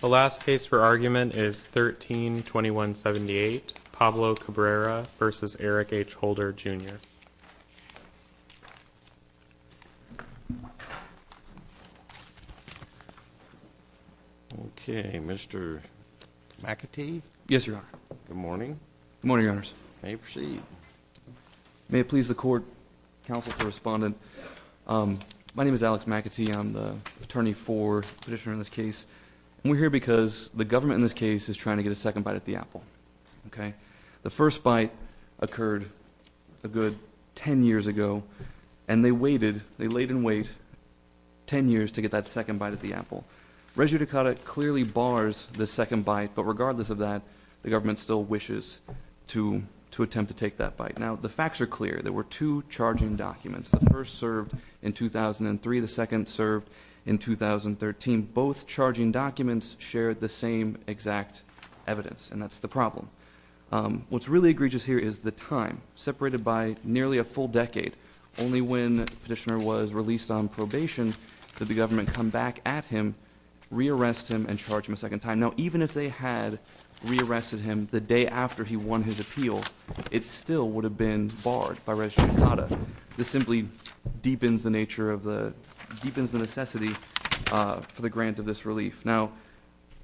The last case for argument is 13-2178, Pablo Cabrera v. Eric H. Holder, Jr. Okay, Mr. McAtee? Yes, Your Honor. Good morning. Good morning, Your Honors. You may proceed. May it please the court, counsel to the respondent, My name is Alex McAtee. I'm the attorney for the petitioner in this case. We're here because the government in this case is trying to get a second bite at the apple, okay? The first bite occurred a good 10 years ago, and they waited. They laid in wait 10 years to get that second bite at the apple. Régier Ducotte clearly bars the second bite, but regardless of that, the government still wishes to attempt to take that bite. Now, the facts are clear. There were two charging documents. The first served in 2003. The second served in 2013. Both charging documents shared the same exact evidence, and that's the problem. What's really egregious here is the time, separated by nearly a full decade. Only when the petitioner was released on probation did the government come back at him, re-arrest him, and charge him a second time. Now, even if they had re-arrested him the day after he won his appeal, it still would have been barred by Régier Ducotte. This simply deepens the necessity for the grant of this relief. Now,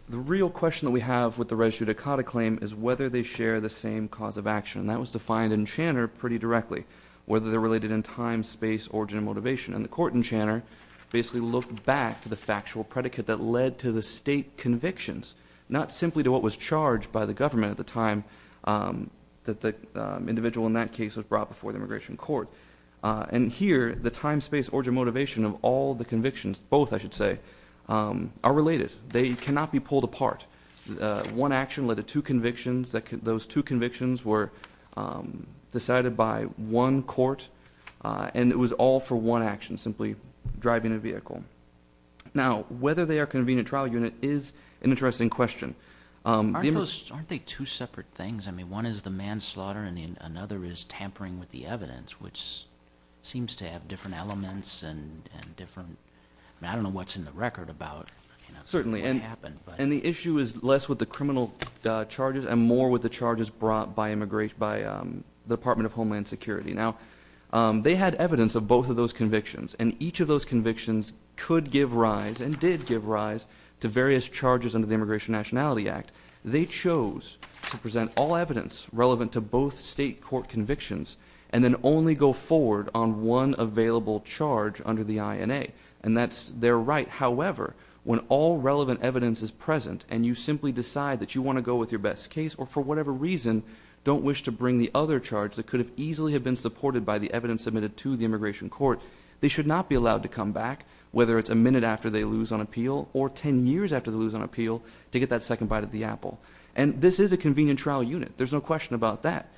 the real question that we have with the Régier Ducotte claim is whether they share the same cause of action. That was defined in Channer pretty directly, whether they're related in time, space, origin, and motivation. And the court in Channer basically looked back to the factual predicate that led to the state convictions, not simply to what was charged by the government at the time that the individual in that case was brought before the immigration court. And here, the time, space, origin, motivation of all the convictions, both I should say, are related. They cannot be pulled apart. One action led to two convictions. Those two convictions were decided by one court, and it was all for one action, simply driving a vehicle. Now, whether they are a convenient trial unit is an interesting question. Aren't they two separate things? I mean, one is the manslaughter, and another is tampering with the evidence, which seems to have different elements and different— I mean, I don't know what's in the record about what happened. And the issue is less with the criminal charges and more with the charges brought by the Department of Homeland Security. Now, they had evidence of both of those convictions, and each of those convictions could give rise and did give rise to various charges under the Immigration Nationality Act. They chose to present all evidence relevant to both state court convictions and then only go forward on one available charge under the INA, and that's their right. However, when all relevant evidence is present and you simply decide that you want to go with your best case or for whatever reason don't wish to bring the other charge that could have easily been supported by the evidence submitted to the immigration court, they should not be allowed to come back, whether it's a minute after they lose on appeal or ten years after they lose on appeal, to get that second bite of the apple. And this is a convenient trial unit. There's no question about that.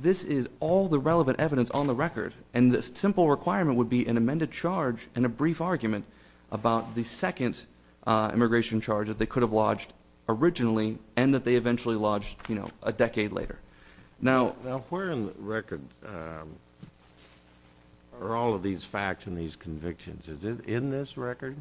This is all the relevant evidence on the record, and the simple requirement would be an amended charge and a brief argument about the second immigration charge that they could have lodged originally and that they eventually lodged a decade later. Now, where in the record are all of these facts and these convictions? Is it in this record?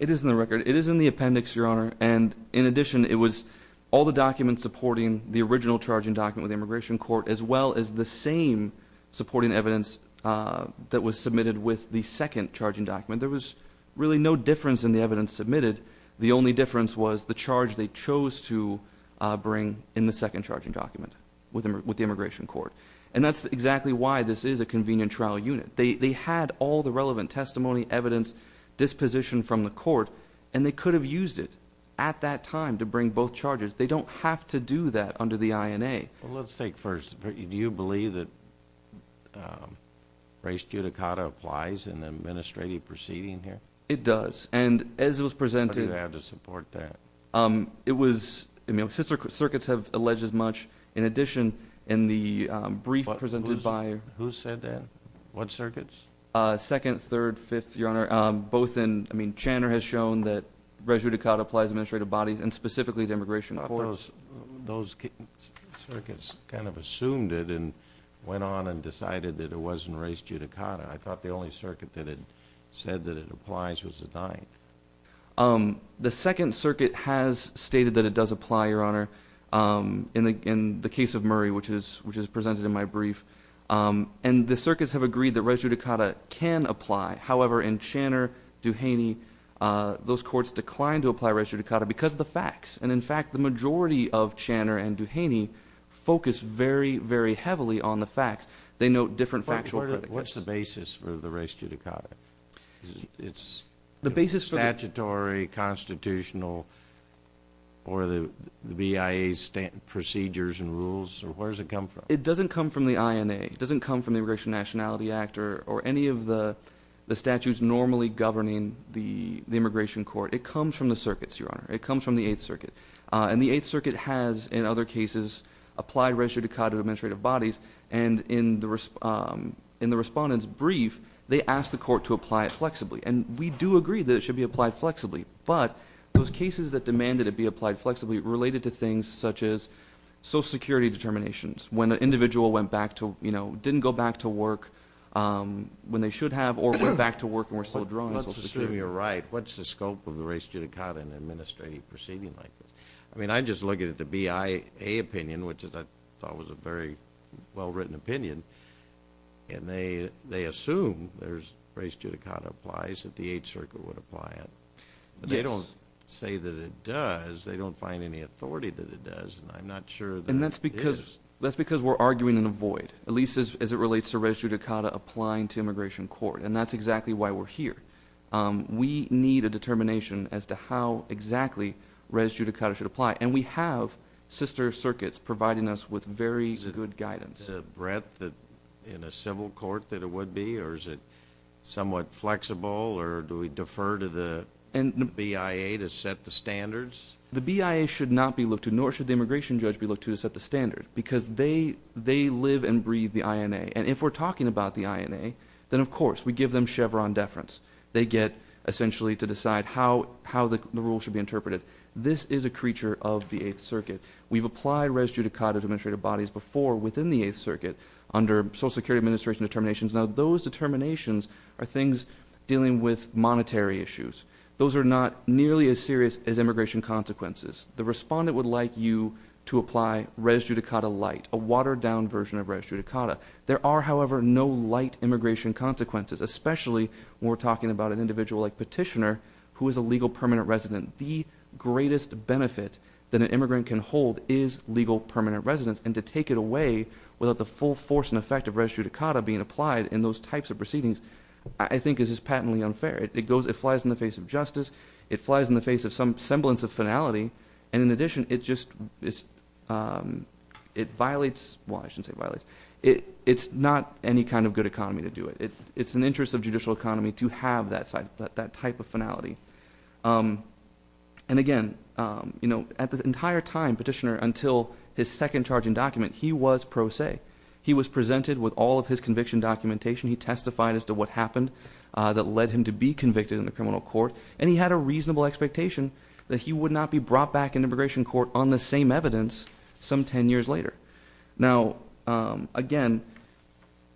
It is in the record. It is in the appendix, Your Honor. And in addition, it was all the documents supporting the original charging document with the immigration court as well as the same supporting evidence that was submitted with the second charging document. There was really no difference in the evidence submitted. The only difference was the charge they chose to bring in the second charging document with the immigration court. And that's exactly why this is a convenient trial unit. They had all the relevant testimony, evidence, disposition from the court, and they could have used it at that time to bring both charges. They don't have to do that under the INA. Well, let's take first. Do you believe that res judicata applies in the administrative proceeding here? It does. And as it was presented ñ How do you have to support that? It was ñ circuits have alleged as much. In addition, in the brief presented by ñ Who said that? What circuits? Second, third, fifth, Your Honor. Both in ñ I mean, Channer has shown that res judicata applies to administrative bodies and specifically to immigration courts. I thought those circuits kind of assumed it and went on and decided that it wasn't res judicata. I thought the only circuit that had said that it applies was the ninth. The Second Circuit has stated that it does apply, Your Honor, in the case of Murray, which is presented in my brief. And the circuits have agreed that res judicata can apply. However, in Channer, Duhaney, those courts declined to apply res judicata because of the facts. And, in fact, the majority of Channer and Duhaney focus very, very heavily on the facts. They note different factual predicates. What's the basis for the res judicata? It's statutory, constitutional, or the BIA's procedures and rules? Where does it come from? It doesn't come from the INA. It doesn't come from the Immigration Nationality Act or any of the statutes normally governing the immigration court. It comes from the circuits, Your Honor. It comes from the Eighth Circuit. And the Eighth Circuit has, in other cases, applied res judicata to administrative bodies. And in the respondent's brief, they asked the court to apply it flexibly. And we do agree that it should be applied flexibly. But those cases that demanded it be applied flexibly related to things such as Social Security determinations, when an individual went back to, you know, didn't go back to work when they should have or went back to work and were still drawn to Social Security. Let's assume you're right. What's the scope of the res judicata in an administrative proceeding like this? I mean, I'm just looking at the BIA opinion, which I thought was a very well-written opinion. And they assume there's res judicata applies that the Eighth Circuit would apply it. But they don't say that it does. They don't find any authority that it does. And I'm not sure that it is. And that's because we're arguing in a void, at least as it relates to res judicata applying to immigration court. And that's exactly why we're here. We need a determination as to how exactly res judicata should apply. And we have sister circuits providing us with very good guidance. Is it the breadth in a civil court that it would be, or is it somewhat flexible, or do we defer to the BIA to set the standards? The BIA should not be looked to, nor should the immigration judge be looked to, to set the standard because they live and breathe the INA. And if we're talking about the INA, then, of course, we give them Chevron deference. They get essentially to decide how the rule should be interpreted. This is a creature of the Eighth Circuit. We've applied res judicata to administrative bodies before within the Eighth Circuit under Social Security Administration determinations. Now, those determinations are things dealing with monetary issues. Those are not nearly as serious as immigration consequences. The respondent would like you to apply res judicata light, a watered-down version of res judicata. There are, however, no light immigration consequences, especially when we're talking about an individual like Petitioner who is a legal permanent resident. The greatest benefit that an immigrant can hold is legal permanent residence. And to take it away without the full force and effect of res judicata being applied in those types of proceedings I think is just patently unfair. It flies in the face of justice. It flies in the face of some semblance of finality. And in addition, it just violates – well, I shouldn't say violates. It's not any kind of good economy to do it. It's in the interest of judicial economy to have that type of finality. And again, at the entire time, Petitioner, until his second charging document, he was pro se. He was presented with all of his conviction documentation. He testified as to what happened that led him to be convicted in the criminal court. And he had a reasonable expectation that he would not be brought back in immigration court on the same evidence some ten years later. Now, again,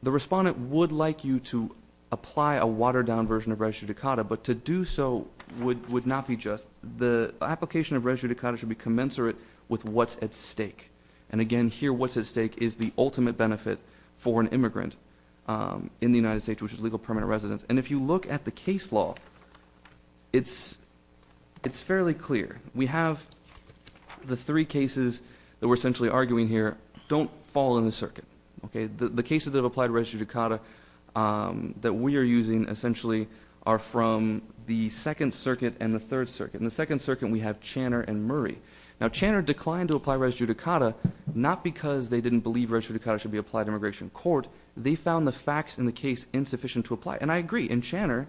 the respondent would like you to apply a watered-down version of res judicata, but to do so would not be just. The application of res judicata should be commensurate with what's at stake. And again, here, what's at stake is the ultimate benefit for an immigrant in the United States, which is legal permanent residence. And if you look at the case law, it's fairly clear. We have the three cases that we're essentially arguing here don't fall in the circuit. The cases that apply to res judicata that we are using essentially are from the Second Circuit and the Third Circuit. In the Second Circuit, we have Channer and Murray. Now, Channer declined to apply res judicata not because they didn't believe res judicata should be applied to immigration court. They found the facts in the case insufficient to apply. And I agree. In Channer,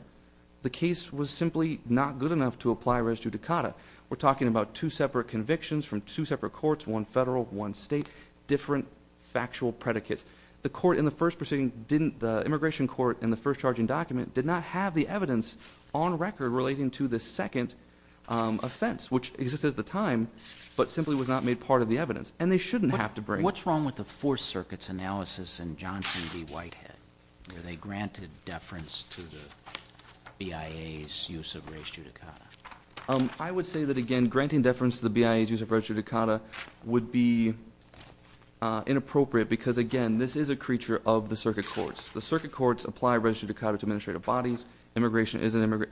the case was simply not good enough to apply res judicata. We're talking about two separate convictions from two separate courts, one federal, one state, different factual predicates. The immigration court in the first charging document did not have the evidence on record relating to the second offense, which existed at the time but simply was not made part of the evidence. And they shouldn't have to bring it. What's wrong with the Fourth Circuit's analysis in Johnson v. Whitehead where they granted deference to the BIA's use of res judicata? I would say that, again, granting deference to the BIA's use of res judicata would be inappropriate because, again, this is a creature of the circuit courts. The circuit courts apply res judicata to administrative bodies. Immigration is an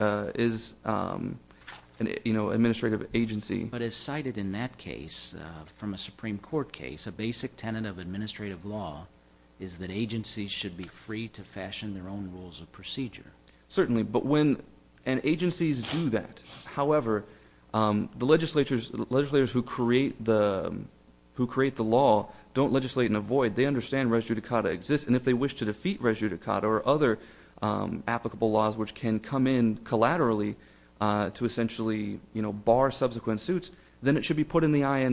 administrative agency. But as cited in that case from a Supreme Court case, a basic tenet of administrative law is that agencies should be free to fashion their own rules of procedure. Certainly. And agencies do that. However, the legislators who create the law don't legislate in a void. They understand res judicata exists. And if they wish to defeat res judicata or other applicable laws which can come in collaterally to essentially bar subsequent suits, then it should be put in the INA.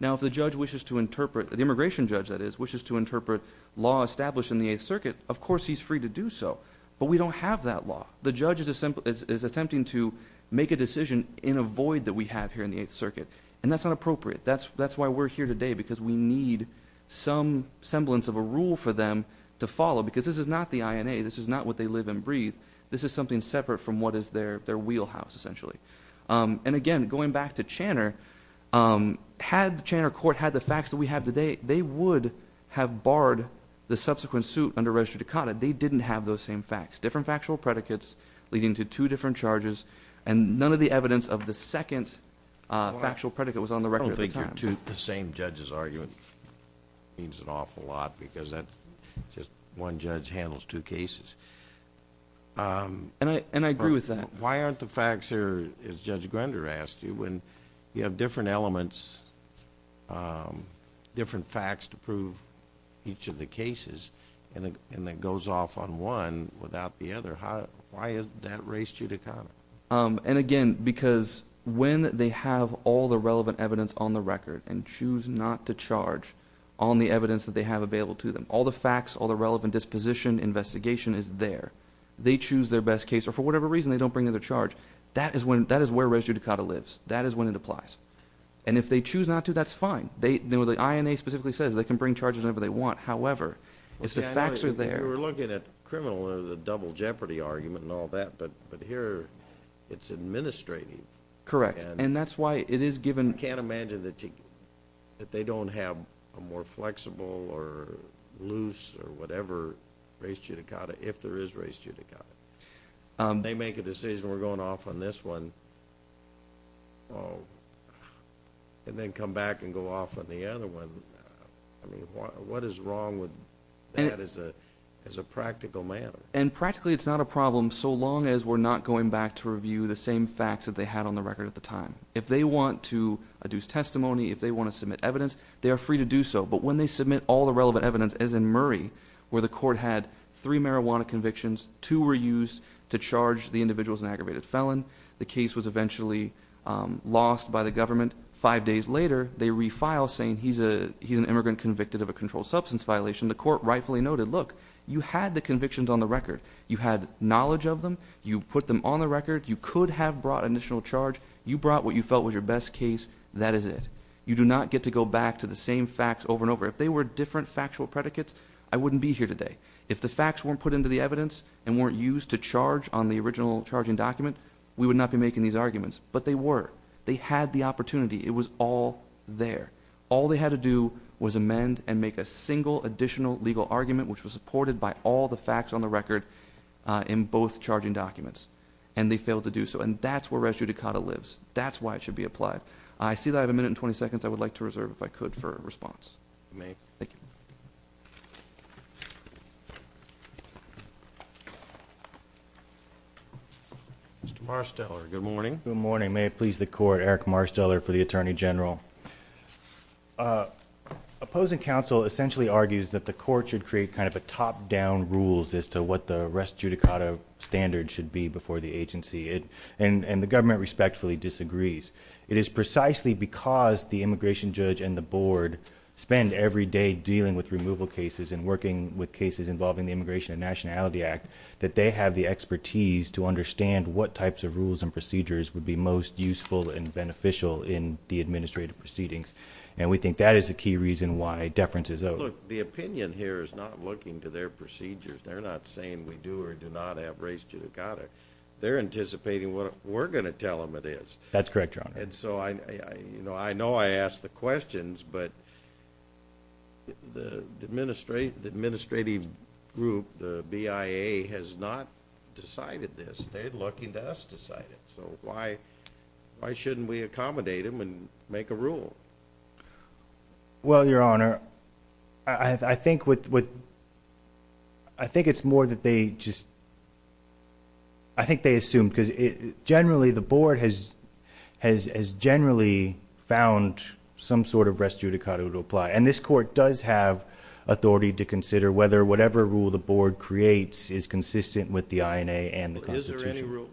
Now, if the judge wishes to interpret, the immigration judge that is, wishes to interpret law established in the Eighth Circuit, of course he's free to do so. But we don't have that law. The judge is attempting to make a decision in a void that we have here in the Eighth Circuit. And that's not appropriate. That's why we're here today because we need some semblance of a rule for them to follow because this is not the INA. This is not what they live and breathe. This is something separate from what is their wheelhouse essentially. And, again, going back to Channer, had the Channer court had the facts that we have today, they would have barred the subsequent suit under res judicata. They didn't have those same facts. Different factual predicates leading to two different charges and none of the evidence of the second factual predicate was on the record at the time. I don't think the same judge's argument means an awful lot because that's just one judge handles two cases. And I agree with that. Why aren't the facts here, as Judge Grender asked you, when you have different elements, different facts to prove each of the cases and it goes off on one without the other? Why is that res judicata? And, again, because when they have all the relevant evidence on the record and choose not to charge on the evidence that they have available to them, all the facts, all the relevant disposition, investigation is there. They choose their best case, or for whatever reason, they don't bring in their charge. That is where res judicata lives. That is when it applies. And if they choose not to, that's fine. The INA specifically says they can bring charges whenever they want. However, if the facts are there – Well, Channer, you were looking at criminal under the double jeopardy argument and all that, but here it's administrative. Correct, and that's why it is given – They make a decision, we're going off on this one, and then come back and go off on the other one. I mean, what is wrong with that as a practical matter? And practically it's not a problem so long as we're not going back to review the same facts that they had on the record at the time. If they want to adduce testimony, if they want to submit evidence, they are free to do so. But when they submit all the relevant evidence, as in Murray, where the court had three marijuana convictions, two were used to charge the individuals in aggravated felon, the case was eventually lost by the government. Five days later, they refile saying he's an immigrant convicted of a controlled substance violation. The court rightfully noted, look, you had the convictions on the record. You had knowledge of them. You put them on the record. You could have brought an additional charge. You brought what you felt was your best case. That is it. You do not get to go back to the same facts over and over. If they were different factual predicates, I wouldn't be here today. If the facts weren't put into the evidence and weren't used to charge on the original charging document, we would not be making these arguments. But they were. They had the opportunity. It was all there. All they had to do was amend and make a single additional legal argument, which was supported by all the facts on the record in both charging documents. And they failed to do so. And that's where res judicata lives. That's why it should be applied. I see that I have a minute and 20 seconds I would like to reserve, if I could, for a response. You may. Thank you. Mr. Marsteller, good morning. Good morning. May it please the court, Eric Marsteller for the Attorney General. Opposing counsel essentially argues that the court should create kind of a top-down rules as to what the res judicata standard should be before the agency. And the government respectfully disagrees. It is precisely because the immigration judge and the board spend every day dealing with removal cases and working with cases involving the Immigration and Nationality Act that they have the expertise to understand what types of rules and procedures would be most useful and beneficial in the administrative proceedings. And we think that is a key reason why deference is owed. Look, the opinion here is not looking to their procedures. They're not saying we do or do not have res judicata. They're anticipating what we're going to tell them it is. That's correct, Your Honor. And so I know I ask the questions, but the administrative group, the BIA, has not decided this. They're looking to us to decide it. So why shouldn't we accommodate them and make a rule? Well, Your Honor, I think it's more that they just assume. Because generally the board has generally found some sort of res judicata to apply. And this court does have authority to consider whether whatever rule the board creates is consistent with the INA and the Constitution. Is there any rule?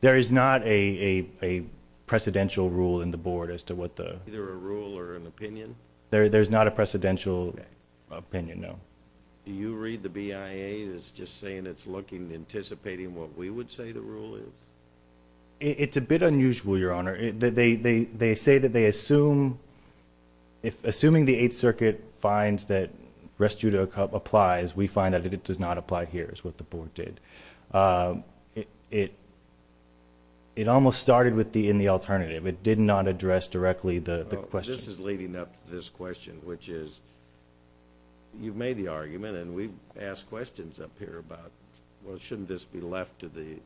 There is not a precedential rule in the board as to what the rule or an opinion. There's not a precedential opinion, no. Do you read the BIA as just saying it's looking, anticipating what we would say the rule is? It's a bit unusual, Your Honor. They say that they assume. Assuming the Eighth Circuit finds that res judicata applies, we find that it does not apply here is what the board did. It almost started with the in the alternative. It did not address directly the question. This is leading up to this question, which is you've made the argument and we've asked questions up here about, well, shouldn't this be left to the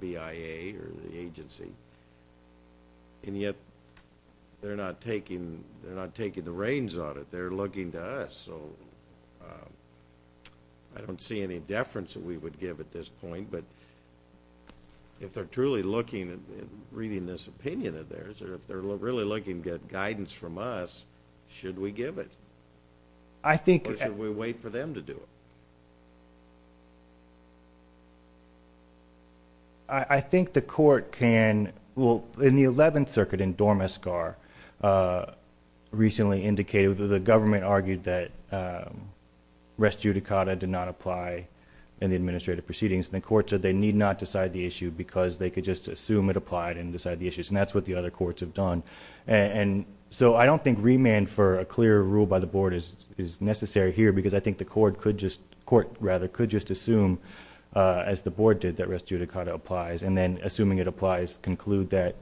BIA or the agency? And yet they're not taking the reins on it. They're looking to us. So I don't see any deference that we would give at this point. But if they're truly looking and reading this opinion of theirs, or if they're really looking to get guidance from us, should we give it? Or should we wait for them to do it? I think the court can. Well, in the Eleventh Circuit in Dormescar, recently indicated, the government argued that res judicata did not apply in the administrative proceedings. And the court said they need not decide the issue because they could just assume it applied and decide the issues. And that's what the other courts have done. And so I don't think remand for a clear rule by the board is necessary here, because I think the court could just assume, as the board did, that res judicata applies, and then, assuming it applies, conclude that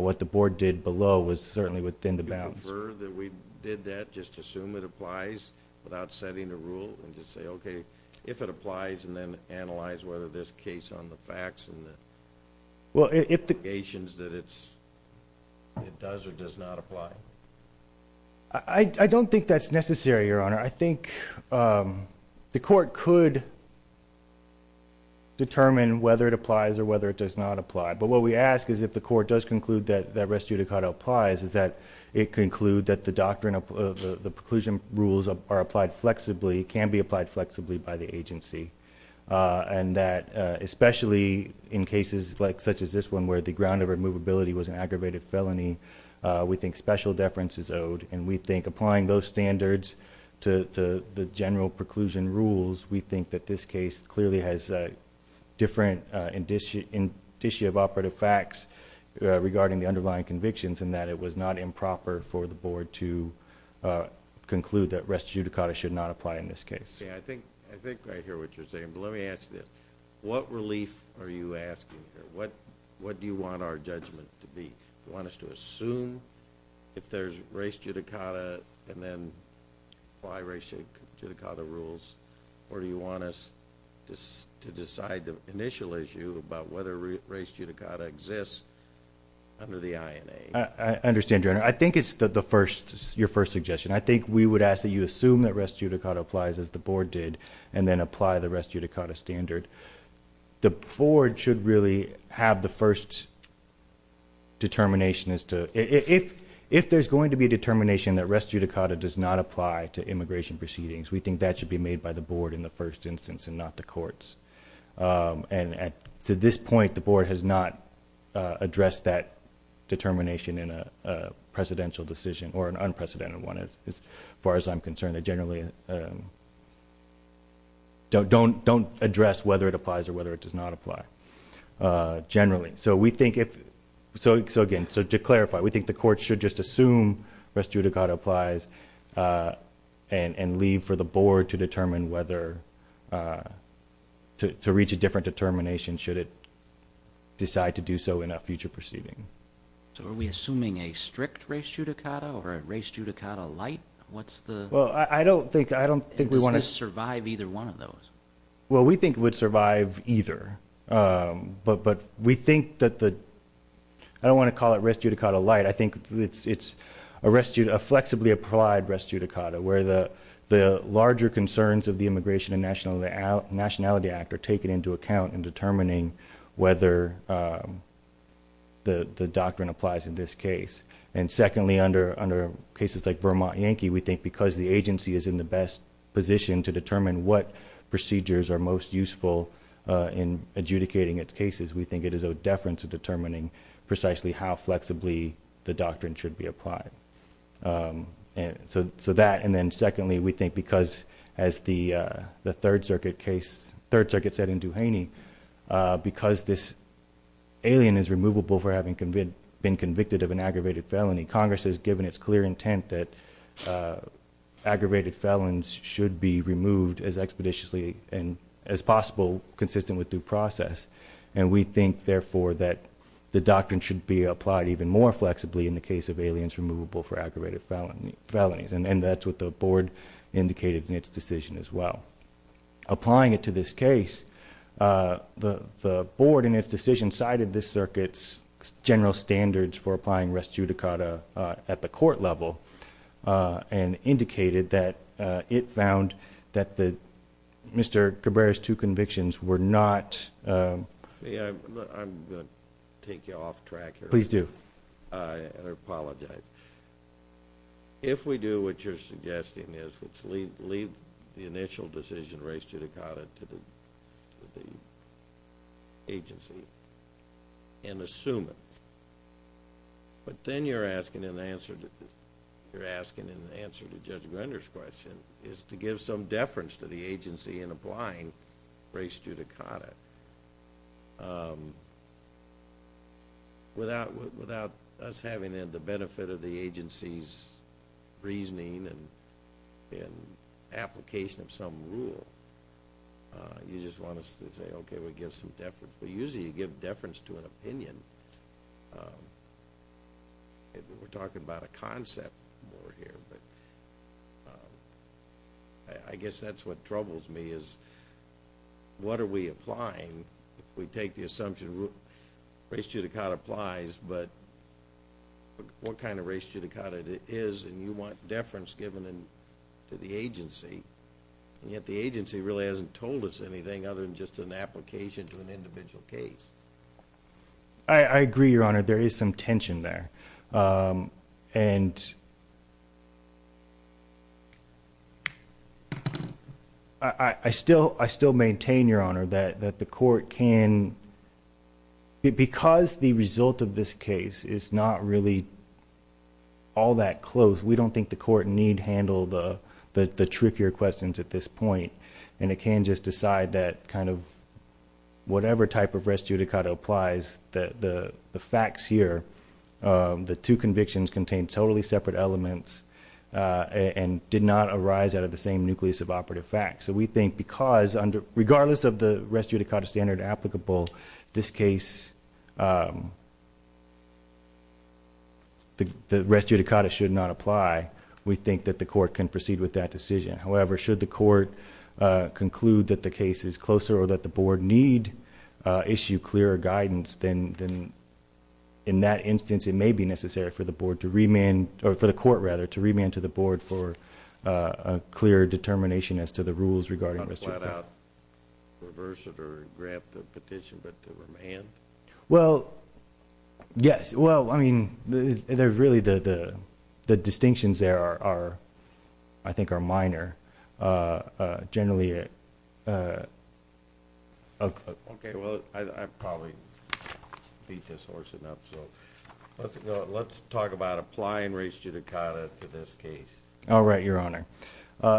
what the board did below was certainly within the bounds. Do you prefer that we did that, just assume it applies without setting a rule, and just say, okay, if it applies, and then analyze whether there's case on the facts and the indications that it does or does not apply? I don't think that's necessary, Your Honor. I think the court could determine whether it applies or whether it does not apply. But what we ask is if the court does conclude that res judicata applies, is that it conclude that the doctrine of the preclusion rules are applied flexibly, can be applied flexibly by the agency. And that especially in cases such as this one where the ground of removability was an aggravated felony, we think special deference is owed, and we think applying those standards to the general preclusion rules, we think that this case clearly has different indicia of operative facts regarding the underlying convictions, and that it was not improper for the board to conclude that res judicata should not apply in this case. Yeah, I think I hear what you're saying, but let me ask you this. What relief are you asking here? What do you want our judgment to be? Do you want us to assume if there's res judicata and then apply res judicata rules, or do you want us to decide the initial issue about whether res judicata exists under the INA? I understand, Your Honor. I think it's your first suggestion. I think we would ask that you assume that res judicata applies, as the board did, and then apply the res judicata standard. The board should really have the first determination as to if there's going to be a determination that res judicata does not apply to immigration proceedings, we think that should be made by the board in the first instance and not the courts. And to this point, the board has not addressed that determination in a presidential decision or an unprecedented one as far as I'm concerned. They generally don't address whether it applies or whether it does not apply generally. So, again, to clarify, we think the courts should just assume res judicata applies and leave for the board to reach a different determination should it decide to do so in a future proceeding. So are we assuming a strict res judicata or a res judicata light? What's the— Well, I don't think we want to— Does this survive either one of those? Well, we think it would survive either, but we think that the—I don't want to call it res judicata light. I think it's a flexibly applied res judicata where the larger concerns of the Immigration and Nationality Act are taken into account in determining whether the doctrine applies in this case. And secondly, under cases like Vermont Yankee, we think because the agency is in the best position to determine what procedures are most useful in adjudicating its cases, we think it is of deference to determining precisely how flexibly the doctrine should be applied. So that, and then secondly, we think because, as the Third Circuit said in Duhaney, because this alien is removable for having been convicted of an aggravated felony, Congress has given its clear intent that aggravated felons should be removed as expeditiously as possible, consistent with due process, and we think, therefore, that the doctrine should be applied even more flexibly in the case of aliens removable for aggravated felonies. And that's what the Board indicated in its decision as well. Applying it to this case, the Board, in its decision, cited this circuit's general standards for applying res judicata at the court level and indicated that it found that Mr. Cabrera's two convictions were not— I'm going to take you off track here. Please do. I apologize. If we do what you're suggesting is leave the initial decision, res judicata, to the agency and assume it, but then you're asking an answer to Judge Grender's question, is to give some deference to the agency in applying res judicata. Without us having the benefit of the agency's reasoning and application of some rule, you just want us to say, okay, we give some deference. But usually you give deference to an opinion. We're talking about a concept here. I guess that's what troubles me is what are we applying if we take the assumption res judicata applies, but what kind of res judicata it is and you want deference given to the agency, and yet the agency really hasn't told us anything other than just an application to an individual case. I agree, Your Honor. There is some tension there. And I still maintain, Your Honor, that the court can— because the result of this case is not really all that close, we don't think the court need handle the trickier questions at this point, and it can just decide that kind of whatever type of res judicata applies, the facts here, the two convictions contain totally separate elements and did not arise out of the same nucleus of operative facts. So we think because, regardless of the res judicata standard applicable, this case, the res judicata should not apply. We think that the court can proceed with that decision. However, should the court conclude that the case is closer or that the board need issue clearer guidance, then in that instance it may be necessary for the board to remand— or for the court, rather, to remand to the board for a clearer determination as to the rules regarding res judicata. Not flat out reverse it or grab the petition, but to remand? Well, yes. Well, I mean, there's really—the distinctions there are, I think, are minor. Generally— Okay, well, I probably beat this horse enough, so let's talk about applying res judicata to this case. All right, Your Honor.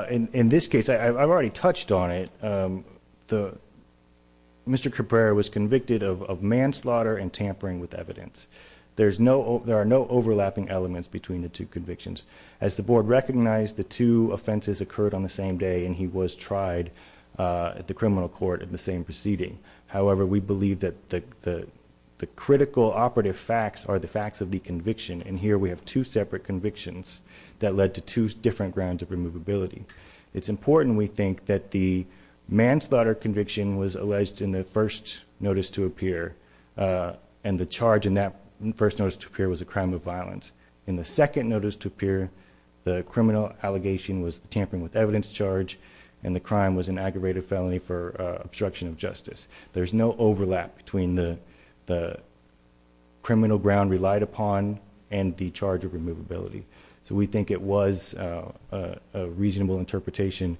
In this case, I've already touched on it. Mr. Caprera was convicted of manslaughter and tampering with evidence. There are no overlapping elements between the two convictions. As the board recognized, the two offenses occurred on the same day, and he was tried at the criminal court in the same proceeding. However, we believe that the critical operative facts are the facts of the conviction, and here we have two separate convictions that led to two different grounds of removability. It's important, we think, that the manslaughter conviction was alleged in the first notice to appear, and the charge in that first notice to appear was a crime of violence. In the second notice to appear, the criminal allegation was the tampering with evidence charge, and the crime was an aggravated felony for obstruction of justice. There's no overlap between the criminal ground relied upon and the charge of removability. So we think it was a reasonable interpretation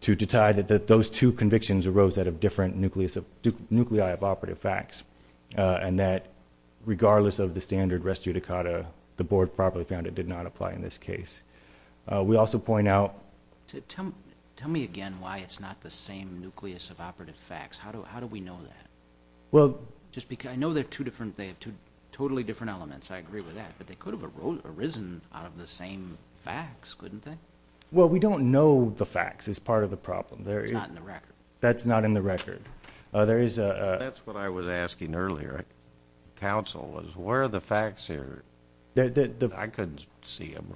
to deny that those two convictions arose out of different nuclei of operative facts, and that regardless of the standard res judicata, the board probably found it did not apply in this case. We also point out... Tell me again why it's not the same nucleus of operative facts. How do we know that? Well... I know they're two different... they have two totally different elements. I agree with that. But they could have arisen out of the same facts, couldn't they? Well, we don't know the facts is part of the problem. It's not in the record. That's not in the record. There is a... That's what I was asking earlier. Counsel, where are the facts here? I couldn't see them.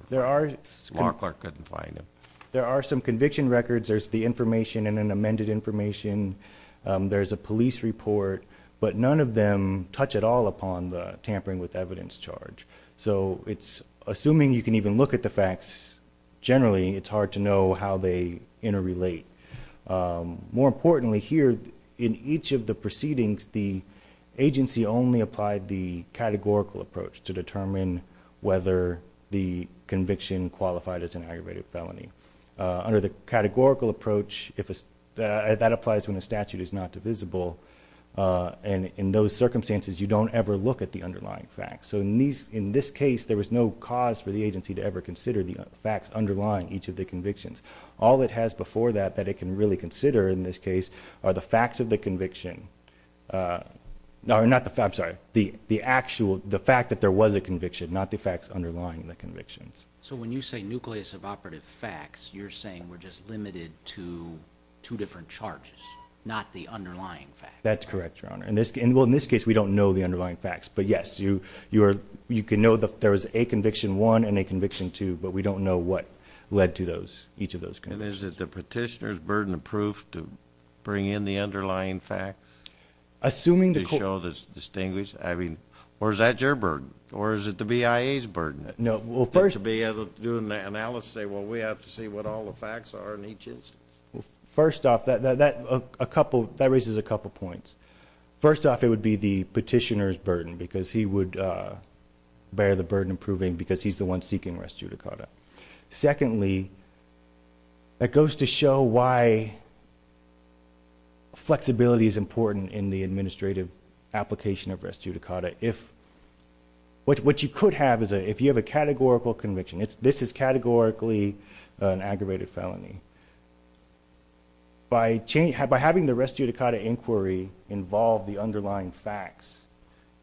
Mark Clark couldn't find them. There are some conviction records. There's the information and an amended information. There's a police report, but none of them touch at all upon the tampering with evidence charge. So it's... assuming you can even look at the facts generally, it's hard to know how they interrelate. More importantly here, in each of the proceedings, the agency only applied the categorical approach to determine whether the conviction qualified as an aggravated felony. Under the categorical approach, that applies when the statute is not divisible. In those circumstances, you don't ever look at the underlying facts. So in this case, there was no cause for the agency to ever consider the facts underlying each of the convictions. All it has before that, that it can really consider in this case, are the facts of the conviction. No, not the facts. I'm sorry. The actual... the fact that there was a conviction, not the facts underlying the convictions. So when you say nucleus of operative facts, you're saying we're just limited to two different charges, not the underlying facts. That's correct, Your Honor. Well, in this case, we don't know the underlying facts. But yes, you can know that there was a conviction 1 and a conviction 2, but we don't know what led to each of those convictions. And is it the petitioner's burden of proof to bring in the underlying facts... Assuming the...... to show that it's distinguished? Or is that your burden? Or is it the BIA's burden? No. Well, first... To be able to do an analysis and say, well, we have to see what all the facts are in each instance? Well, first off, that raises a couple of points. First off, it would be the petitioner's burden because he would bear the burden of proving because he's the one seeking res judicata. Secondly, it goes to show why flexibility is important in the administrative application of res judicata. If... What you could have is if you have a categorical conviction. This is categorically an aggravated felony. By having the res judicata inquiry involve the underlying facts,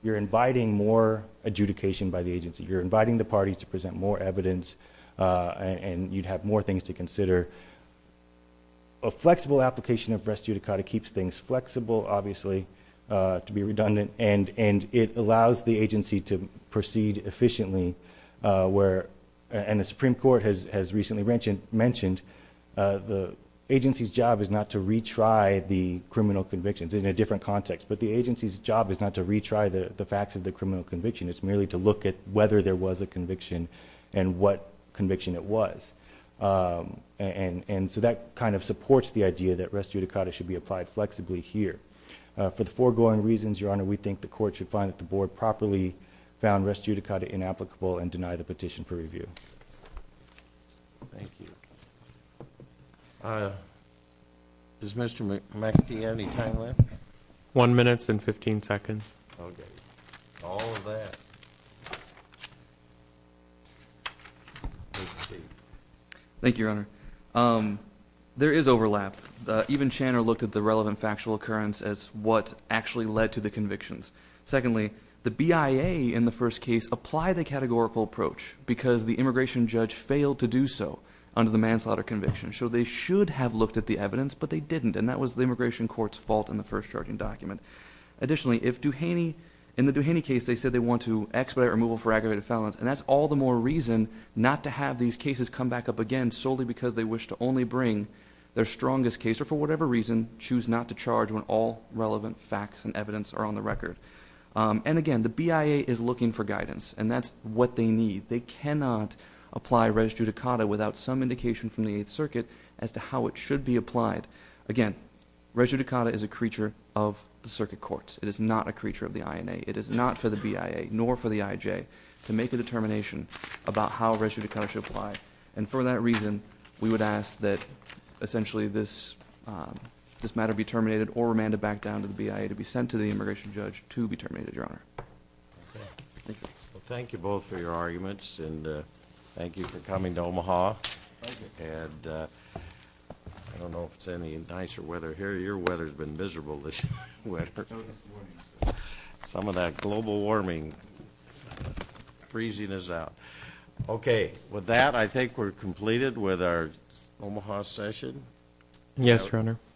you're inviting more adjudication by the agency. You're inviting the parties to present more evidence and you'd have more things to consider. A flexible application of res judicata keeps things flexible, obviously, to be redundant. And it allows the agency to proceed efficiently where... And the Supreme Court has recently mentioned the agency's job is not to retry the criminal convictions in a different context. But the agency's job is not to retry the facts of the criminal conviction. It's merely to look at whether there was a conviction and what conviction it was. And so that kind of supports the idea that res judicata should be applied flexibly here. For the foregoing reasons, Your Honor, we think the Court should find that the Board properly found res judicata inapplicable and deny the petition for review. Thank you. Does Mr. McAfee have any time left? One minute and 15 seconds. Okay. All of that. Thank you, Your Honor. There is overlap. One, even Channer looked at the relevant factual occurrence as what actually led to the convictions. Secondly, the BIA in the first case applied the categorical approach because the immigration judge failed to do so under the manslaughter conviction. So they should have looked at the evidence, but they didn't. And that was the immigration court's fault in the first charging document. Additionally, if Duhaney... in the Duhaney case, they said they want to expedite removal for aggravated felons. And that's all the more reason not to have these cases come back up again solely because they wish to only bring their strongest case. Or for whatever reason, choose not to charge when all relevant facts and evidence are on the record. And again, the BIA is looking for guidance, and that's what they need. They cannot apply res judicata without some indication from the Eighth Circuit as to how it should be applied. Again, res judicata is a creature of the circuit courts. It is not a creature of the INA. It is not for the BIA nor for the IJ to make a determination about how res judicata should apply. And for that reason, we would ask that essentially this matter be terminated or remanded back down to the BIA to be sent to the immigration judge to be terminated, Your Honor. Thank you. Thank you both for your arguments, and thank you for coming to Omaha. Thank you. And I don't know if it's any nicer weather here. Your weather has been miserable this winter. Some of that global warming freezing us out. Okay, with that, I think we're completed with our Omaha session. Yes, Your Honor.